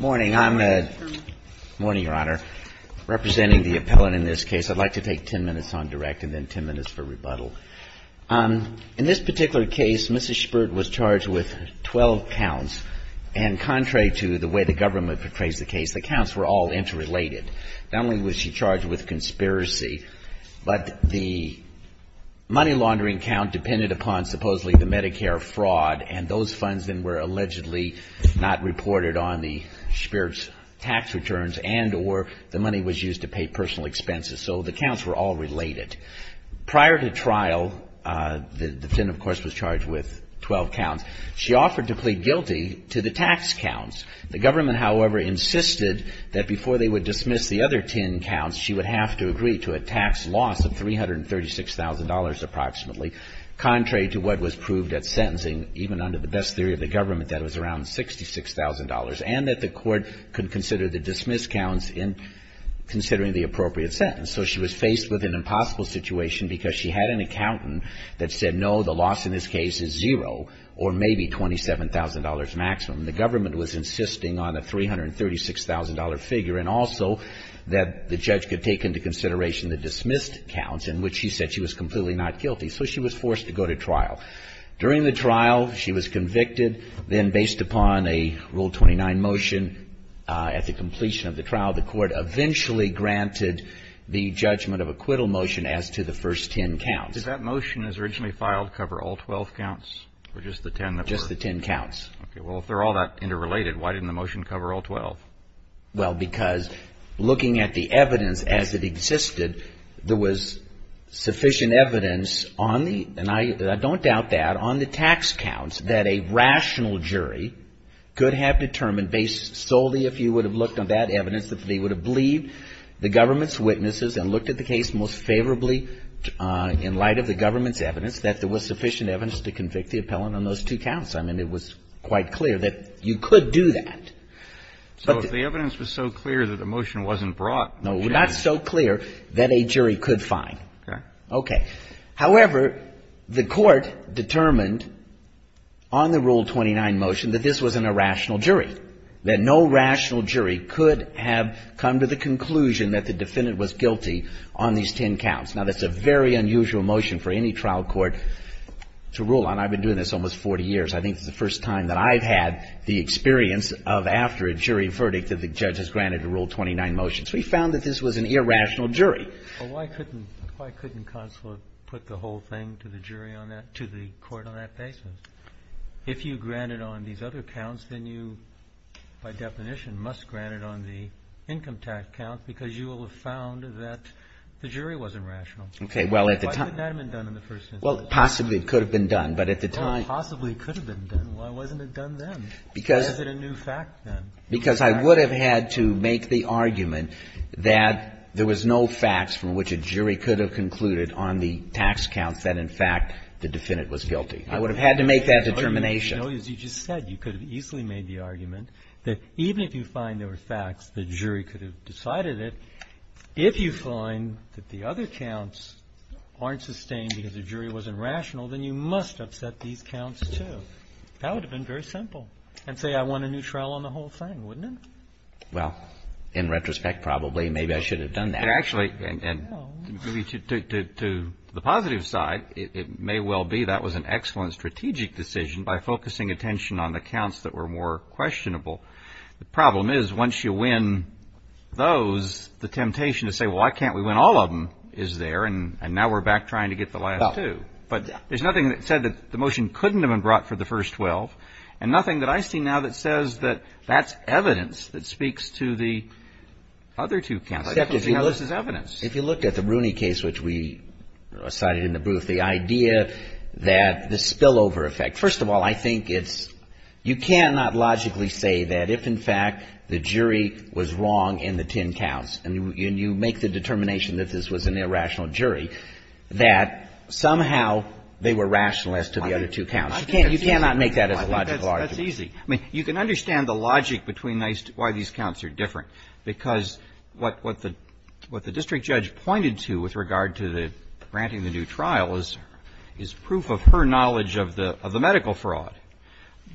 Morning, Your Honor. Representing the appellant in this case, I'd like to take ten minutes on direct and then ten minutes for rebuttal. In this particular case, Mrs. Shpirt was charged with 12 counts, and contrary to the way the government portrays the case, the counts were all interrelated. Not only was she charged with conspiracy, but the money laundering account depended upon supposedly the Medicare fraud, and those funds then were allegedly not reported on the Shpirt's tax returns and or the money was used to pay personal expenses. So the counts were all related. Prior to trial, the defendant, of course, was charged with 12 counts. She offered to plead guilty to the tax counts. The government, however, insisted that before they would dismiss the other 10 counts, she would have to agree to a tax loss of $336,000 approximately, contrary to what was proved at sentencing, even under the best theory of the government, that it was around $66,000, and that the court could consider the dismissed counts in considering the appropriate sentence. So she was faced with an impossible situation because she had an accountant that said, no, the loss in this case is zero, or maybe $27,000 maximum. The government was insisting on a $336,000 figure, and also that the judge could take into consideration the dismissed counts in which she said she was completely not guilty. So she was forced to go to trial. During the trial, she was convicted. Then based upon a Rule 29 motion, at the completion of the trial, the court eventually granted the judgment of acquittal motion as to the first 10 counts. Did that motion as originally filed cover all 12 counts, or just the 10 that were? Just the 10 counts. Okay. Well, if they're all that interrelated, why didn't the motion cover all 12? Well, because looking at the evidence as it existed, there was sufficient evidence on the, and I don't doubt that, on the tax counts that a rational jury could have determined based solely if you would have looked on that evidence, if they would have believed the government's witnesses and looked at the case most favorably in light of the government's evidence, that there was sufficient evidence to convict the appellant on those two counts. I mean, it was quite clear that you could do that. So if the evidence was so clear that the motion wasn't brought, then you can't No, not so clear that a jury could find. Okay. Okay. However, the Court determined on the Rule 29 motion that this was an irrational jury, that no rational jury could have come to the conclusion that the defendant was guilty on these 10 counts. Now, that's a very unusual motion for any trial court to rule on. I've been doing this almost 40 years. I think it's the first time that I've had the experience of, after a jury verdict, that the judge has granted a Rule 29 motion. So we found that this was an irrational jury. Well, why couldn't, why couldn't Consulate put the whole thing to the jury on that, to the Court on that basis? If you granted on these other counts, then you, by definition, must grant it on the income tax count because you will have found that the jury wasn't rational. Okay. Well, at the time Why couldn't that have been done in the first instance? Well, possibly it could have been done, but at the time Well, possibly it could have been done. Why wasn't it done then? Because Why is it a new fact, then? Because I would have had to make the argument that there was no facts from which a jury could have concluded on the tax counts that, in fact, the defendant was guilty. I would have had to make that determination. No, as you just said, you could have easily made the argument that even if you find there were facts, the jury could have decided it. If you find that the other counts aren't sustained because the jury wasn't rational, then you must upset these counts, too. That would have been very simple. And say, I won a new trial on the whole thing, wouldn't it? Well, in retrospect, probably, maybe I should have done that. But actually, to the positive side, it may well be that was an excellent strategic decision by focusing attention on the counts that were more questionable. The problem is, once you win those, the temptation to say, well, why can't we win all of them, is there, and now we're back trying to get the last two. But there's nothing that said that the motion couldn't have been brought for the first 12, and nothing that I see now that says that that's evidence that speaks to the other two counts. I think we see how this is evidence. If you looked at the Rooney case, which we cited in the booth, the idea that the spillover effect. First of all, I think it's you cannot logically say that if, in fact, the jury was wrong in the 10 counts, and you make the determination that this was an irrational jury, that somehow they were rational as to the other two counts. You cannot make that as a logical argument. That's easy. I mean, you can understand the logic between why these counts are different, because what the district judge pointed to with regard to the granting the new trial is proof of her knowledge of the medical fraud.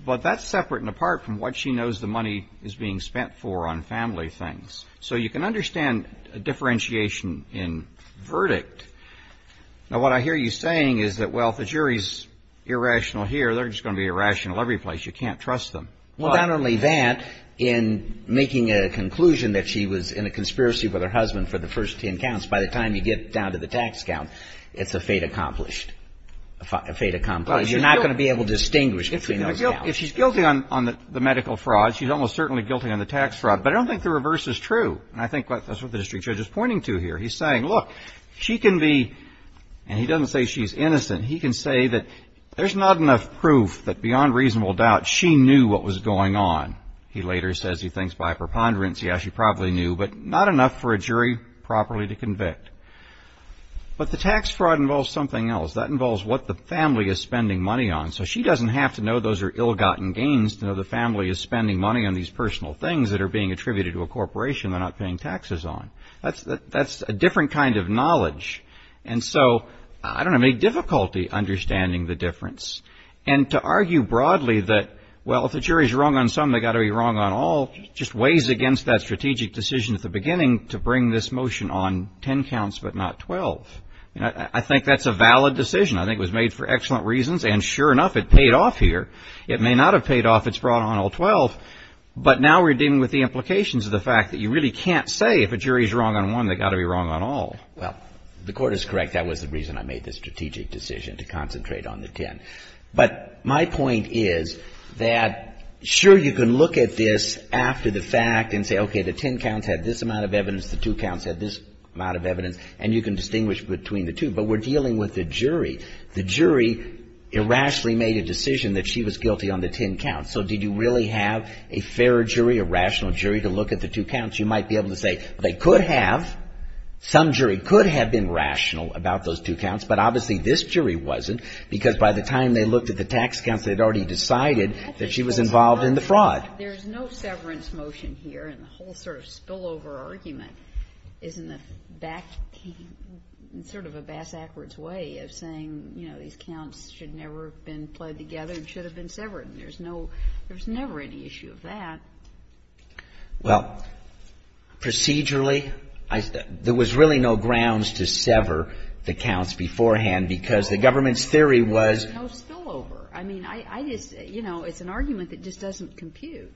But that's separate and apart from what she knows the money is being spent for on family things. So you can understand a differentiation in verdict. Now, what I hear you saying is that, well, if the jury's irrational here, they're just going to be irrational every place. You can't trust them. Well, not only that, in making a conclusion that she was in a conspiracy with her husband for the first 10 counts, by the time you get down to the tax count, it's a fate accomplished. A fate accomplished. You're not going to be able to distinguish between those counts. If she's guilty on the medical fraud, she's almost certainly guilty on the tax fraud. But I don't think the reverse is true. And I think that's what the district judge is pointing to here. He's saying, look, she can be, and he doesn't say she's innocent, he can say that there's not enough proof that beyond reasonable doubt she knew what was going on. He later says he thinks by preponderance, yeah, she probably knew, but not enough for a jury properly to convict. But the tax fraud involves something else. That involves what the family is spending money on. So she doesn't have to know those are ill-gotten gains to know the family is spending money on these personal things that are being attributed to a corporation they're not paying taxes on. That's a different kind of knowledge. And so I don't have any difficulty understanding the difference. And to argue broadly that, well, if the jury's wrong on some, they got to be wrong on all, just weighs against that strategic decision at the beginning to bring this motion on 10 counts, but not 12. I think that's a valid decision. I think it was made for excellent reasons. And sure enough, it paid off here. It may not have paid off. It's brought on all 12. But now we're dealing with the implications of the fact that you really can't say if a jury's wrong on one, they got to be wrong on all. Well, the court is correct. That was the reason I made this strategic decision to concentrate on the 10. But my point is that sure, you can look at this after the fact and say, okay, the 10 counts had this amount of evidence. The two counts had this amount of evidence and you can distinguish between the two, but we're dealing with the jury. The jury irrationally made a decision that she was guilty on the 10 counts. So did you really have a fair jury, a rational jury to look at the two counts? You might be able to say they could have some jury could have been rational about those two counts, but obviously this jury wasn't because by the time they looked at the tax counts, they'd already decided that she was involved in the fraud. There's no severance motion here. And the whole sort of spillover argument is in the back, sort of a bass, backwards way of saying, you know, these counts should never have been played together and should have been severed. And there's no, there was never any issue of that. Well, procedurally, there was really no grounds to sever the counts beforehand because the government's theory was. There's no spillover. I mean, I just, you know, it's an argument that just doesn't compute.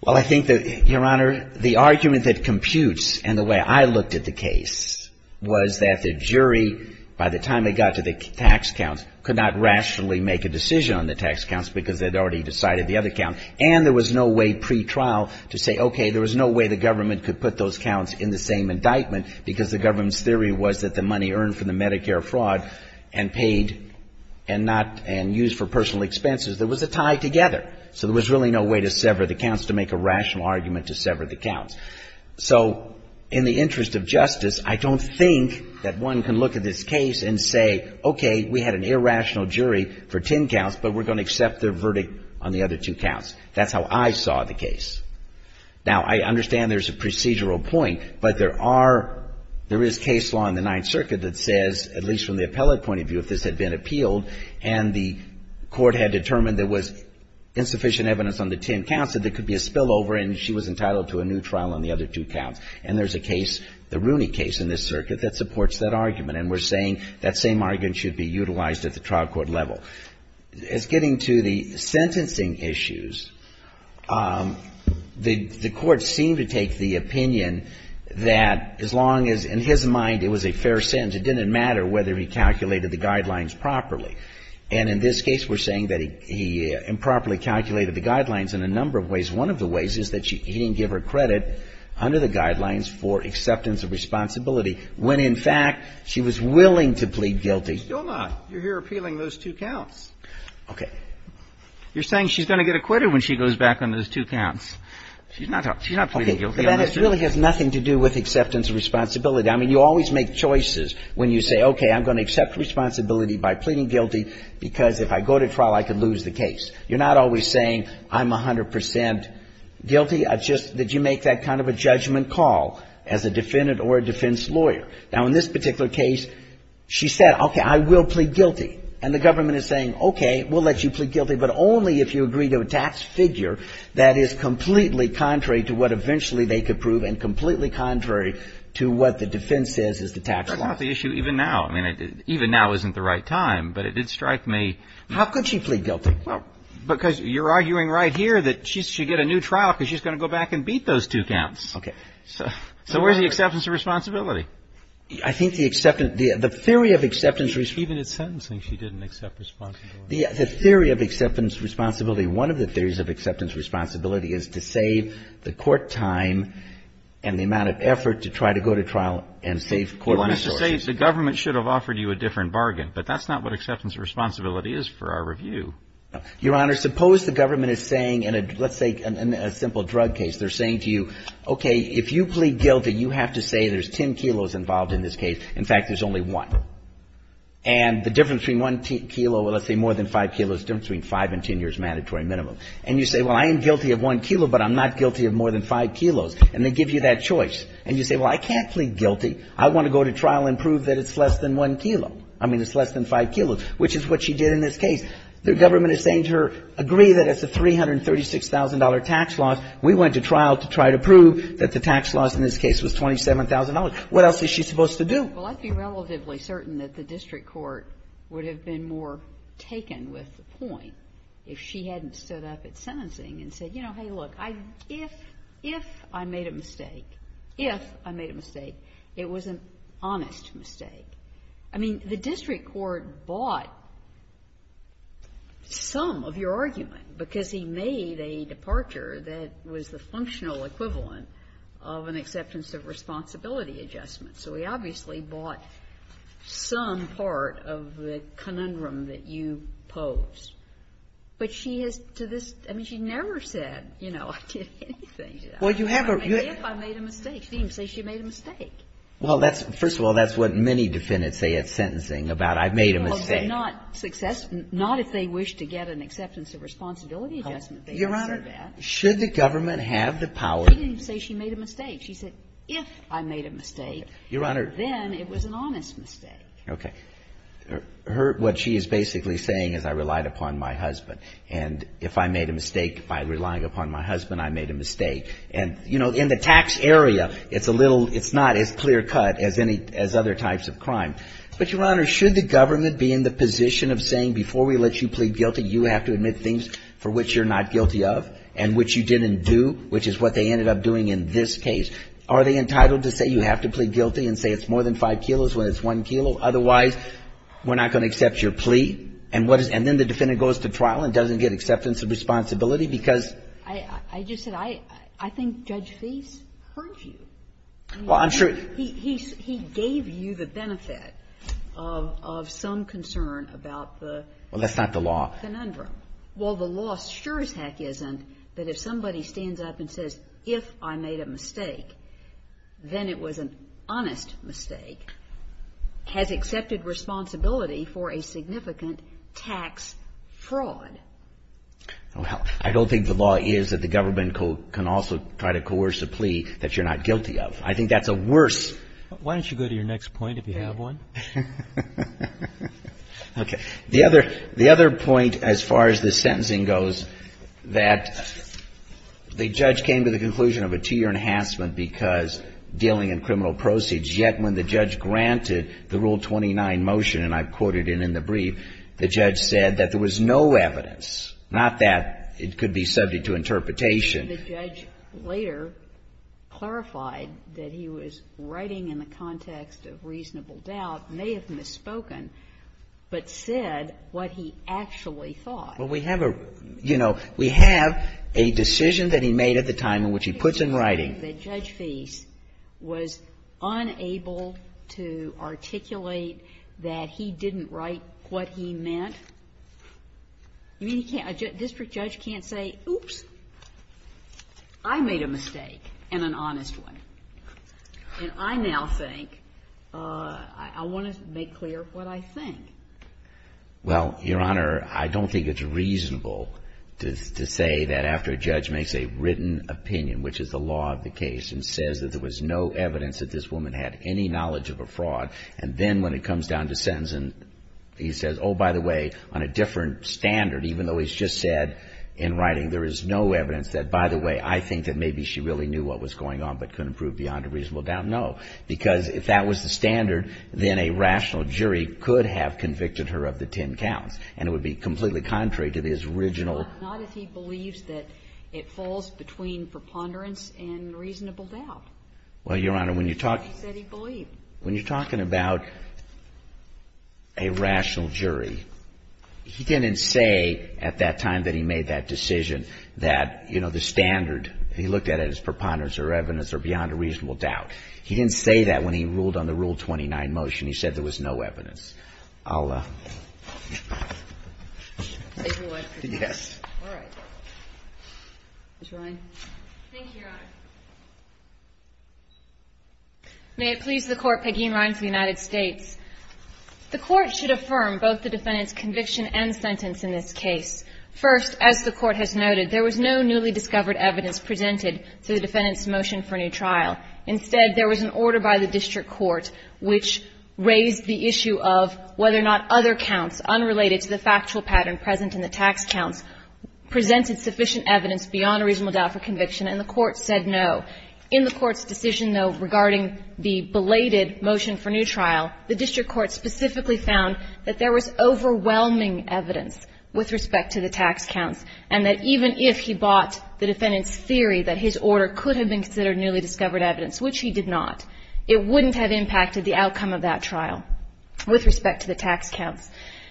Well, I think that, Your Honor, the argument that computes and the way I looked at the case was that the jury, by the time they got to the tax counts could not rationally make a decision on the tax counts because they'd already decided the other count. And there was no way pre-trial to say, okay, there was no way the government could put those counts in the same indictment because the government's theory was that the money earned from the Medicare fraud and paid and not, and used for personal expenses. There was a tie together. So there was really no way to sever the counts to make a rational argument to sever the counts. So in the interest of justice, I don't think that one can look at this case and say, okay, we had an irrational jury for 10 counts, but we're going to accept their verdict on the other two counts. That's how I saw the case. Now I understand there's a procedural point, but there are, there is case law in the Ninth Circuit that says, at least from the appellate point of view, if this had been appealed and the court had determined there was insufficient evidence on the 10 counts, that there could be a spillover and she was entitled to a new trial on the other two counts. And there's a case, the Rooney case in this circuit that supports that argument. And we're saying that same argument should be utilized at the trial court level. As getting to the sentencing issues, the court seemed to take the opinion that as long as in his mind, it was a fair sentence, it didn't matter whether he calculated the guidelines properly. And in this case, we're saying that he improperly calculated the guidelines in a number of ways. One of the ways is that he didn't give her credit under the guidelines for acceptance of responsibility when, in fact, she was willing to plead guilty. Still not. You're here appealing those two counts. Okay. You're saying she's going to get acquitted when she goes back on those two counts. She's not pleading guilty on those two counts. Okay. But that really has nothing to do with acceptance of responsibility. I mean, you always make choices when you say, okay, I'm going to accept responsibility by pleading guilty because if I go to trial, I could lose the case. You're not always saying I'm 100% guilty. It's just that you make that kind of a judgment call as a defendant or a defense lawyer. Now, in this particular case, she said, okay, I will plead guilty. And the government is saying, okay, we'll let you plead guilty, but only if you agree to a tax figure that is completely contrary to what eventually they could prove and completely contrary to what the defense says is the tax law. That's not the issue even now. I mean, even now isn't the right time, but it did strike me. How could she plead guilty? Well, because you're arguing right here that she should get a new trial because she's going to go back and beat those two counts. Okay. So where's the acceptance of responsibility? I think the acceptance, the theory of acceptance... Even in sentencing, she didn't accept responsibility. The theory of acceptance of responsibility, one of the theories of acceptance of responsibility is to save the court time and the amount of effort to try to go to trial and save court resources. The government should have offered you a different bargain, but that's not what acceptance of responsibility is for our review. Your Honor, suppose the government is saying in a, let's say, in a simple drug case, they're saying to you, okay, if you plead guilty, you have to say there's 10 kilos involved in this case. In fact, there's only one. And the difference between one kilo, well, let's say more than five kilos, the difference between five and 10 years mandatory minimum. And you say, well, I am guilty of one kilo, but I'm not guilty of more than five kilos. And they give you that choice. And you say, well, I can't plead guilty. I want to go to trial and prove that it's less than one kilo. I mean, it's less than five kilos, which is what she did in this case. The government is saying to her, agree that it's a $336,000 tax loss. We went to trial to try to prove that the tax loss in this case was $27,000. What else is she supposed to do? Well, I'd be relatively certain that the district court would have been more taken with the point if she hadn't stood up at sentencing and said, you know, hey, look, if I made a mistake, if I made a mistake, it was an honest mistake. I mean, the district court bought some of your argument, because he made a departure that was the functional equivalent of an acceptance of responsibility adjustment. So he obviously bought some part of the conundrum that you posed. But she has to this, I mean, she never said, you know, I did anything to that. Maybe if I made a mistake, she didn't say she made a mistake. Well, that's – first of all, that's what many defendants say at sentencing, about I've made a mistake. Well, not if they wish to get an acceptance of responsibility adjustment. Your Honor, should the government have the power? She didn't say she made a mistake. She said, if I made a mistake, then it was an honest mistake. Okay. Her – what she is basically saying is I relied upon my husband. And if I made a mistake by relying upon my husband, I made a mistake. And, you know, in the tax area, it's a little – it's not as clear cut as any – as other types of crime. But, Your Honor, should the government be in the position of saying, before we let you plead guilty, you have to admit things for which you're not guilty of, and which you didn't do, which is what they ended up doing in this case. Are they entitled to say you have to plead guilty and say it's more than five kilos when it's one kilo? Otherwise, we're not going to accept your plea. And what is – and then the defendant goes to trial and doesn't get acceptance of responsibility, because – I think Judge Fease heard you. Well, I'm sure – He gave you the benefit of some concern about the conundrum. Well, that's not the law. Well, the law sure as heck isn't that if somebody stands up and says, if I made a mistake, then it was an honest mistake, has accepted responsibility for a significant tax fraud. Well, I don't think the law is that the government can also try to coerce a plea that you're not guilty of. I think that's a worse – Why don't you go to your next point, if you have one? Okay. The other point, as far as the sentencing goes, that the judge came to the conclusion of a two-year enhancement because dealing in criminal proceeds, yet when the judge granted the Rule 29 motion, and I've quoted it in the brief, the judge said that there was no evidence, not that it could be subject to interpretation. The judge later clarified that he was writing in the context of reasonable doubt, may have misspoken, but said what he actually thought. Well, we have a – you know, we have a decision that he made at the time in which he puts in writing – Well, Your Honor, I don't think it's reasonable to say that after a judge makes a written opinion, which is the law of the case, that after a judge makes a written opinion, that he can't say, oops, I made a mistake, and an honest one, and I now think I want to make clear what I think. Well, Your Honor, I don't think it's reasonable to say that after a judge makes a written opinion, which is the law of the case, and says that there was no evidence that this woman had any knowledge of a fraud, and then when it comes down to sentencing, he says, oh, by the way, on a different standard, even though he's just said in writing there is no evidence that, by the way, I think that maybe she really knew what was going on but couldn't prove beyond a reasonable doubt. No, because if that was the standard, then a rational jury could have convicted her of the ten counts, and it would be completely contrary to his original Not if he believes that it falls between preponderance and reasonable doubt. Well, Your Honor, when you're talking about a rational jury, he didn't say at that time that he made that decision that, you know, the standard, he looked at it as preponderance or evidence or beyond a reasonable doubt. He didn't say that when he ruled on the Rule 29 motion. He said there was no evidence. I'll take your word for it. Yes. All right. Ms. Ryan. Thank you, Your Honor. May it please the Court, Peggy Ryan for the United States. The Court should affirm both the defendant's conviction and sentence in this case. First, as the Court has noted, there was no newly discovered evidence presented to the defendant's motion for new trial. Instead, there was an order by the district court which raised the issue of whether or not other counts unrelated to the factual pattern present in the tax counts presented sufficient evidence beyond a reasonable doubt for conviction, and the Court said no. In the Court's decision, though, regarding the belated motion for new trial, the district court specifically found that there was overwhelming evidence with respect to the tax counts, and that even if he bought the defendant's theory that his order could have been considered newly discovered evidence, which he did not, it wouldn't have impacted the outcome of that trial with respect to the tax counts.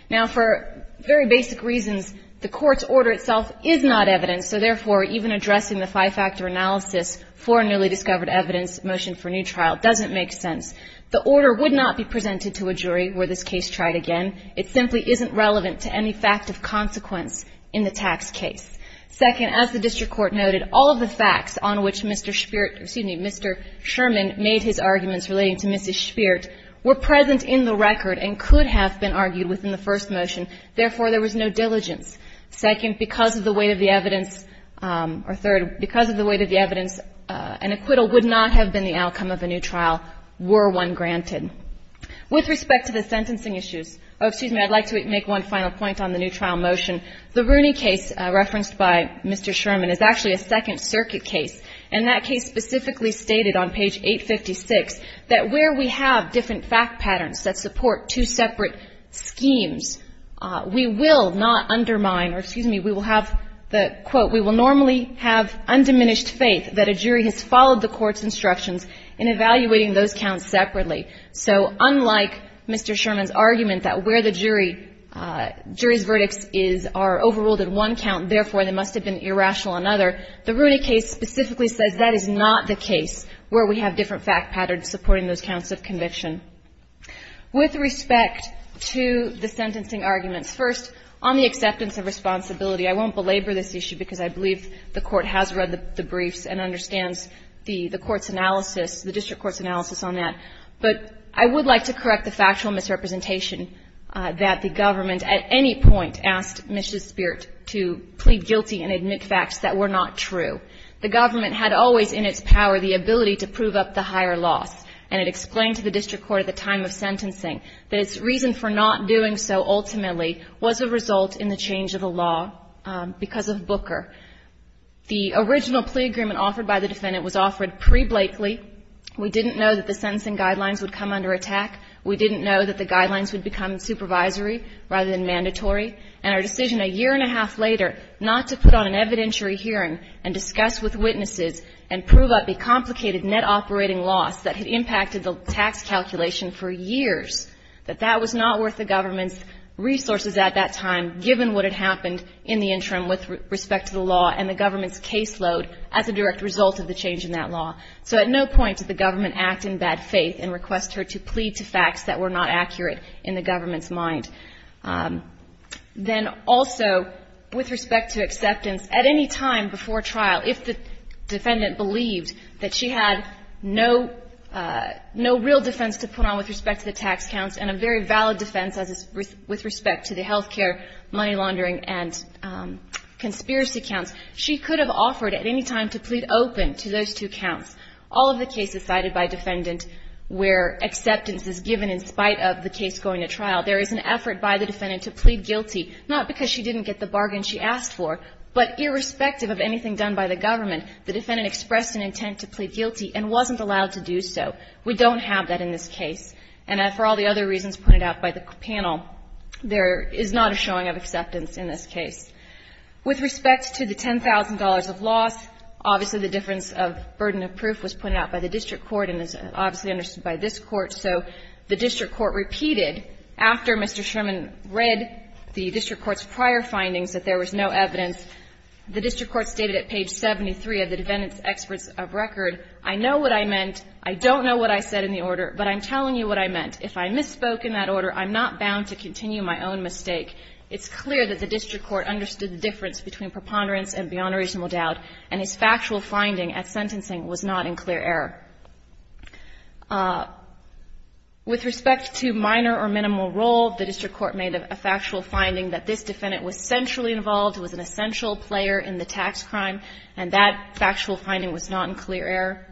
Now, for very basic reasons, the Court's order itself is not evidence, so therefore, even addressing the five-factor analysis for a newly discovered evidence motion for new trial doesn't make sense. The order would not be presented to a jury where this case tried again. It simply isn't relevant to any fact of consequence in the tax case. Second, as the district court noted, all of the facts on which Mr. Shpert or, excuse me, Mr. Sherman made his arguments relating to Mrs. Shpert were present in the record and could have been argued within the first motion, therefore, there was no diligence. Second, because of the weight of the evidence, or third, because of the weight of the evidence, an acquittal would not have been the outcome of a new trial were one granted. With respect to the sentencing issues, oh, excuse me, I'd like to make one final point on the new trial motion. The Rooney case referenced by Mr. Sherman is actually a Second Circuit case, and that case specifically stated on page 856 that where we have different fact patterns that support two separate schemes, we will not undermine, or excuse me, we will have the, quote, we will normally have undiminished faith that a jury has followed the Court's instructions in evaluating those counts separately. So unlike Mr. Sherman's argument that where the jury, jury's verdicts is, are overruled in one count, therefore, they must have been irrational in another, the Rooney case specifically says that is not the case where we have different fact patterns supporting those counts of conviction. With respect to the sentencing arguments, first, on the acceptance of responsibility, I won't belabor this issue because I believe the Court has read the briefs and understands the Court's analysis, the district court's analysis on that, but I would like to correct the factual misrepresentation that the government, at any point, asked Ms. Despirit to plead guilty and admit facts that were not true. The government had always in its power the ability to prove up the higher loss, and it explained to the district court at the time of sentencing that its reason for not doing so ultimately was a result in the change of the law because of Booker. The original plea agreement offered by the defendant was offered pre-Blakely. We didn't know that the sentencing guidelines would come under attack. We didn't know that the guidelines would become supervisory rather than mandatory. And our decision a year and a half later not to put on an evidentiary hearing and discuss with witnesses and prove up a complicated net operating loss that had impacted the tax calculation for years, that that was not worth the government's resources at that time given what had happened in the interim with respect to the law and the government's caseload as a direct result of the change in that law. So at no point did the government act in bad faith and request her to plead to facts that were not accurate in the government's mind. Then also, with respect to acceptance, at any time before trial, if the defendant believed that she had no real defense to put on with respect to the tax counts and a very valid defense with respect to the health care, money laundering, and conspiracy counts, she could have offered at any time to plead open to those two counts. All of the cases cited by defendant where acceptance is given in spite of the case going to trial, there is an effort by the defendant to plead guilty, not because she didn't get the bargain she asked for, but irrespective of anything done by the government, the defendant expressed an intent to plead guilty and wasn't allowed to do so. We don't have that in this case. And for all the other reasons pointed out by the panel, there is not a showing of acceptance in this case. With respect to the $10,000 of loss, obviously, the difference of burden of proof was pointed out by the district court and is obviously understood by this Court. So the district court repeated, after Mr. Sherman read the district court's prior findings that there was no evidence, the district court stated at page 73 of the defendant's experts of record, I know what I meant, I don't know what I said in the order, but I'm telling you what I meant. If I misspoke in that order, I'm not bound to continue my own mistake. It's clear that the district court understood the difference between preponderance and beyond a reasonable doubt, and his factual finding at sentencing was not in clear error. With respect to minor or minimal role, the district court made a factual finding that this defendant was centrally involved, was an essential player in the tax crime, and that factual finding was not in clear error.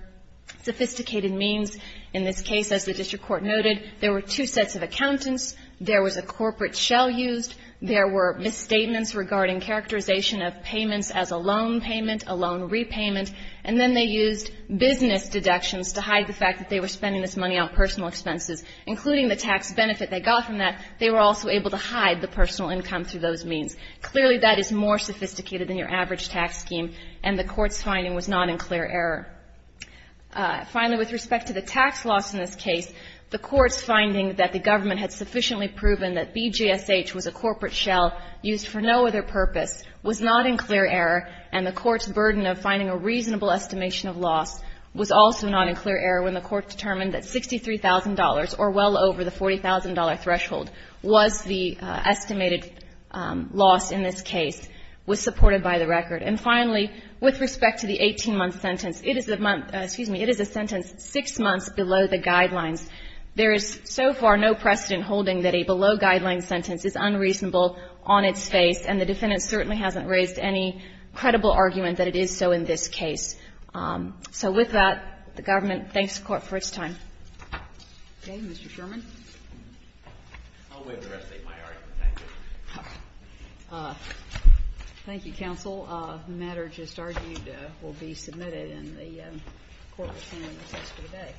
Sophisticated means in this case, as the district court noted, there were two sets of accountants, there was a corporate shell used, there were misstatements regarding characterization of payments as a loan payment, a loan repayment, and then they used business deductions to hide the fact that they were spending this money on personal expenses, including the tax benefit they got from that. They were also able to hide the personal income through those means. Clearly, that is more sophisticated than your average tax scheme, and the Court's finding was not in clear error. Finally, with respect to the tax loss in this case, the Court's finding that the government had sufficiently proven that BGSH was a corporate shell used for no other purpose was not in clear error, and the Court's burden of finding a reasonable estimation of loss was also not in clear error when the Court determined that $63,000 or well over the $40,000 threshold was the estimated loss in this case, was supported by the record. And finally, with respect to the 18-month sentence, it is a month – excuse me, it is a sentence six months below the guidelines. There is so far no precedent holding that a below-guideline sentence is unreasonable on its face, and the defendant certainly hasn't raised any credible argument that it is so in this case. So with that, the government thanks the Court for its time. Okay. Mr. Sherman. I'll wait for the rest of my argument. Thank you. Thank you, counsel. The matter just argued will be submitted, and the Court will stand as is for the day.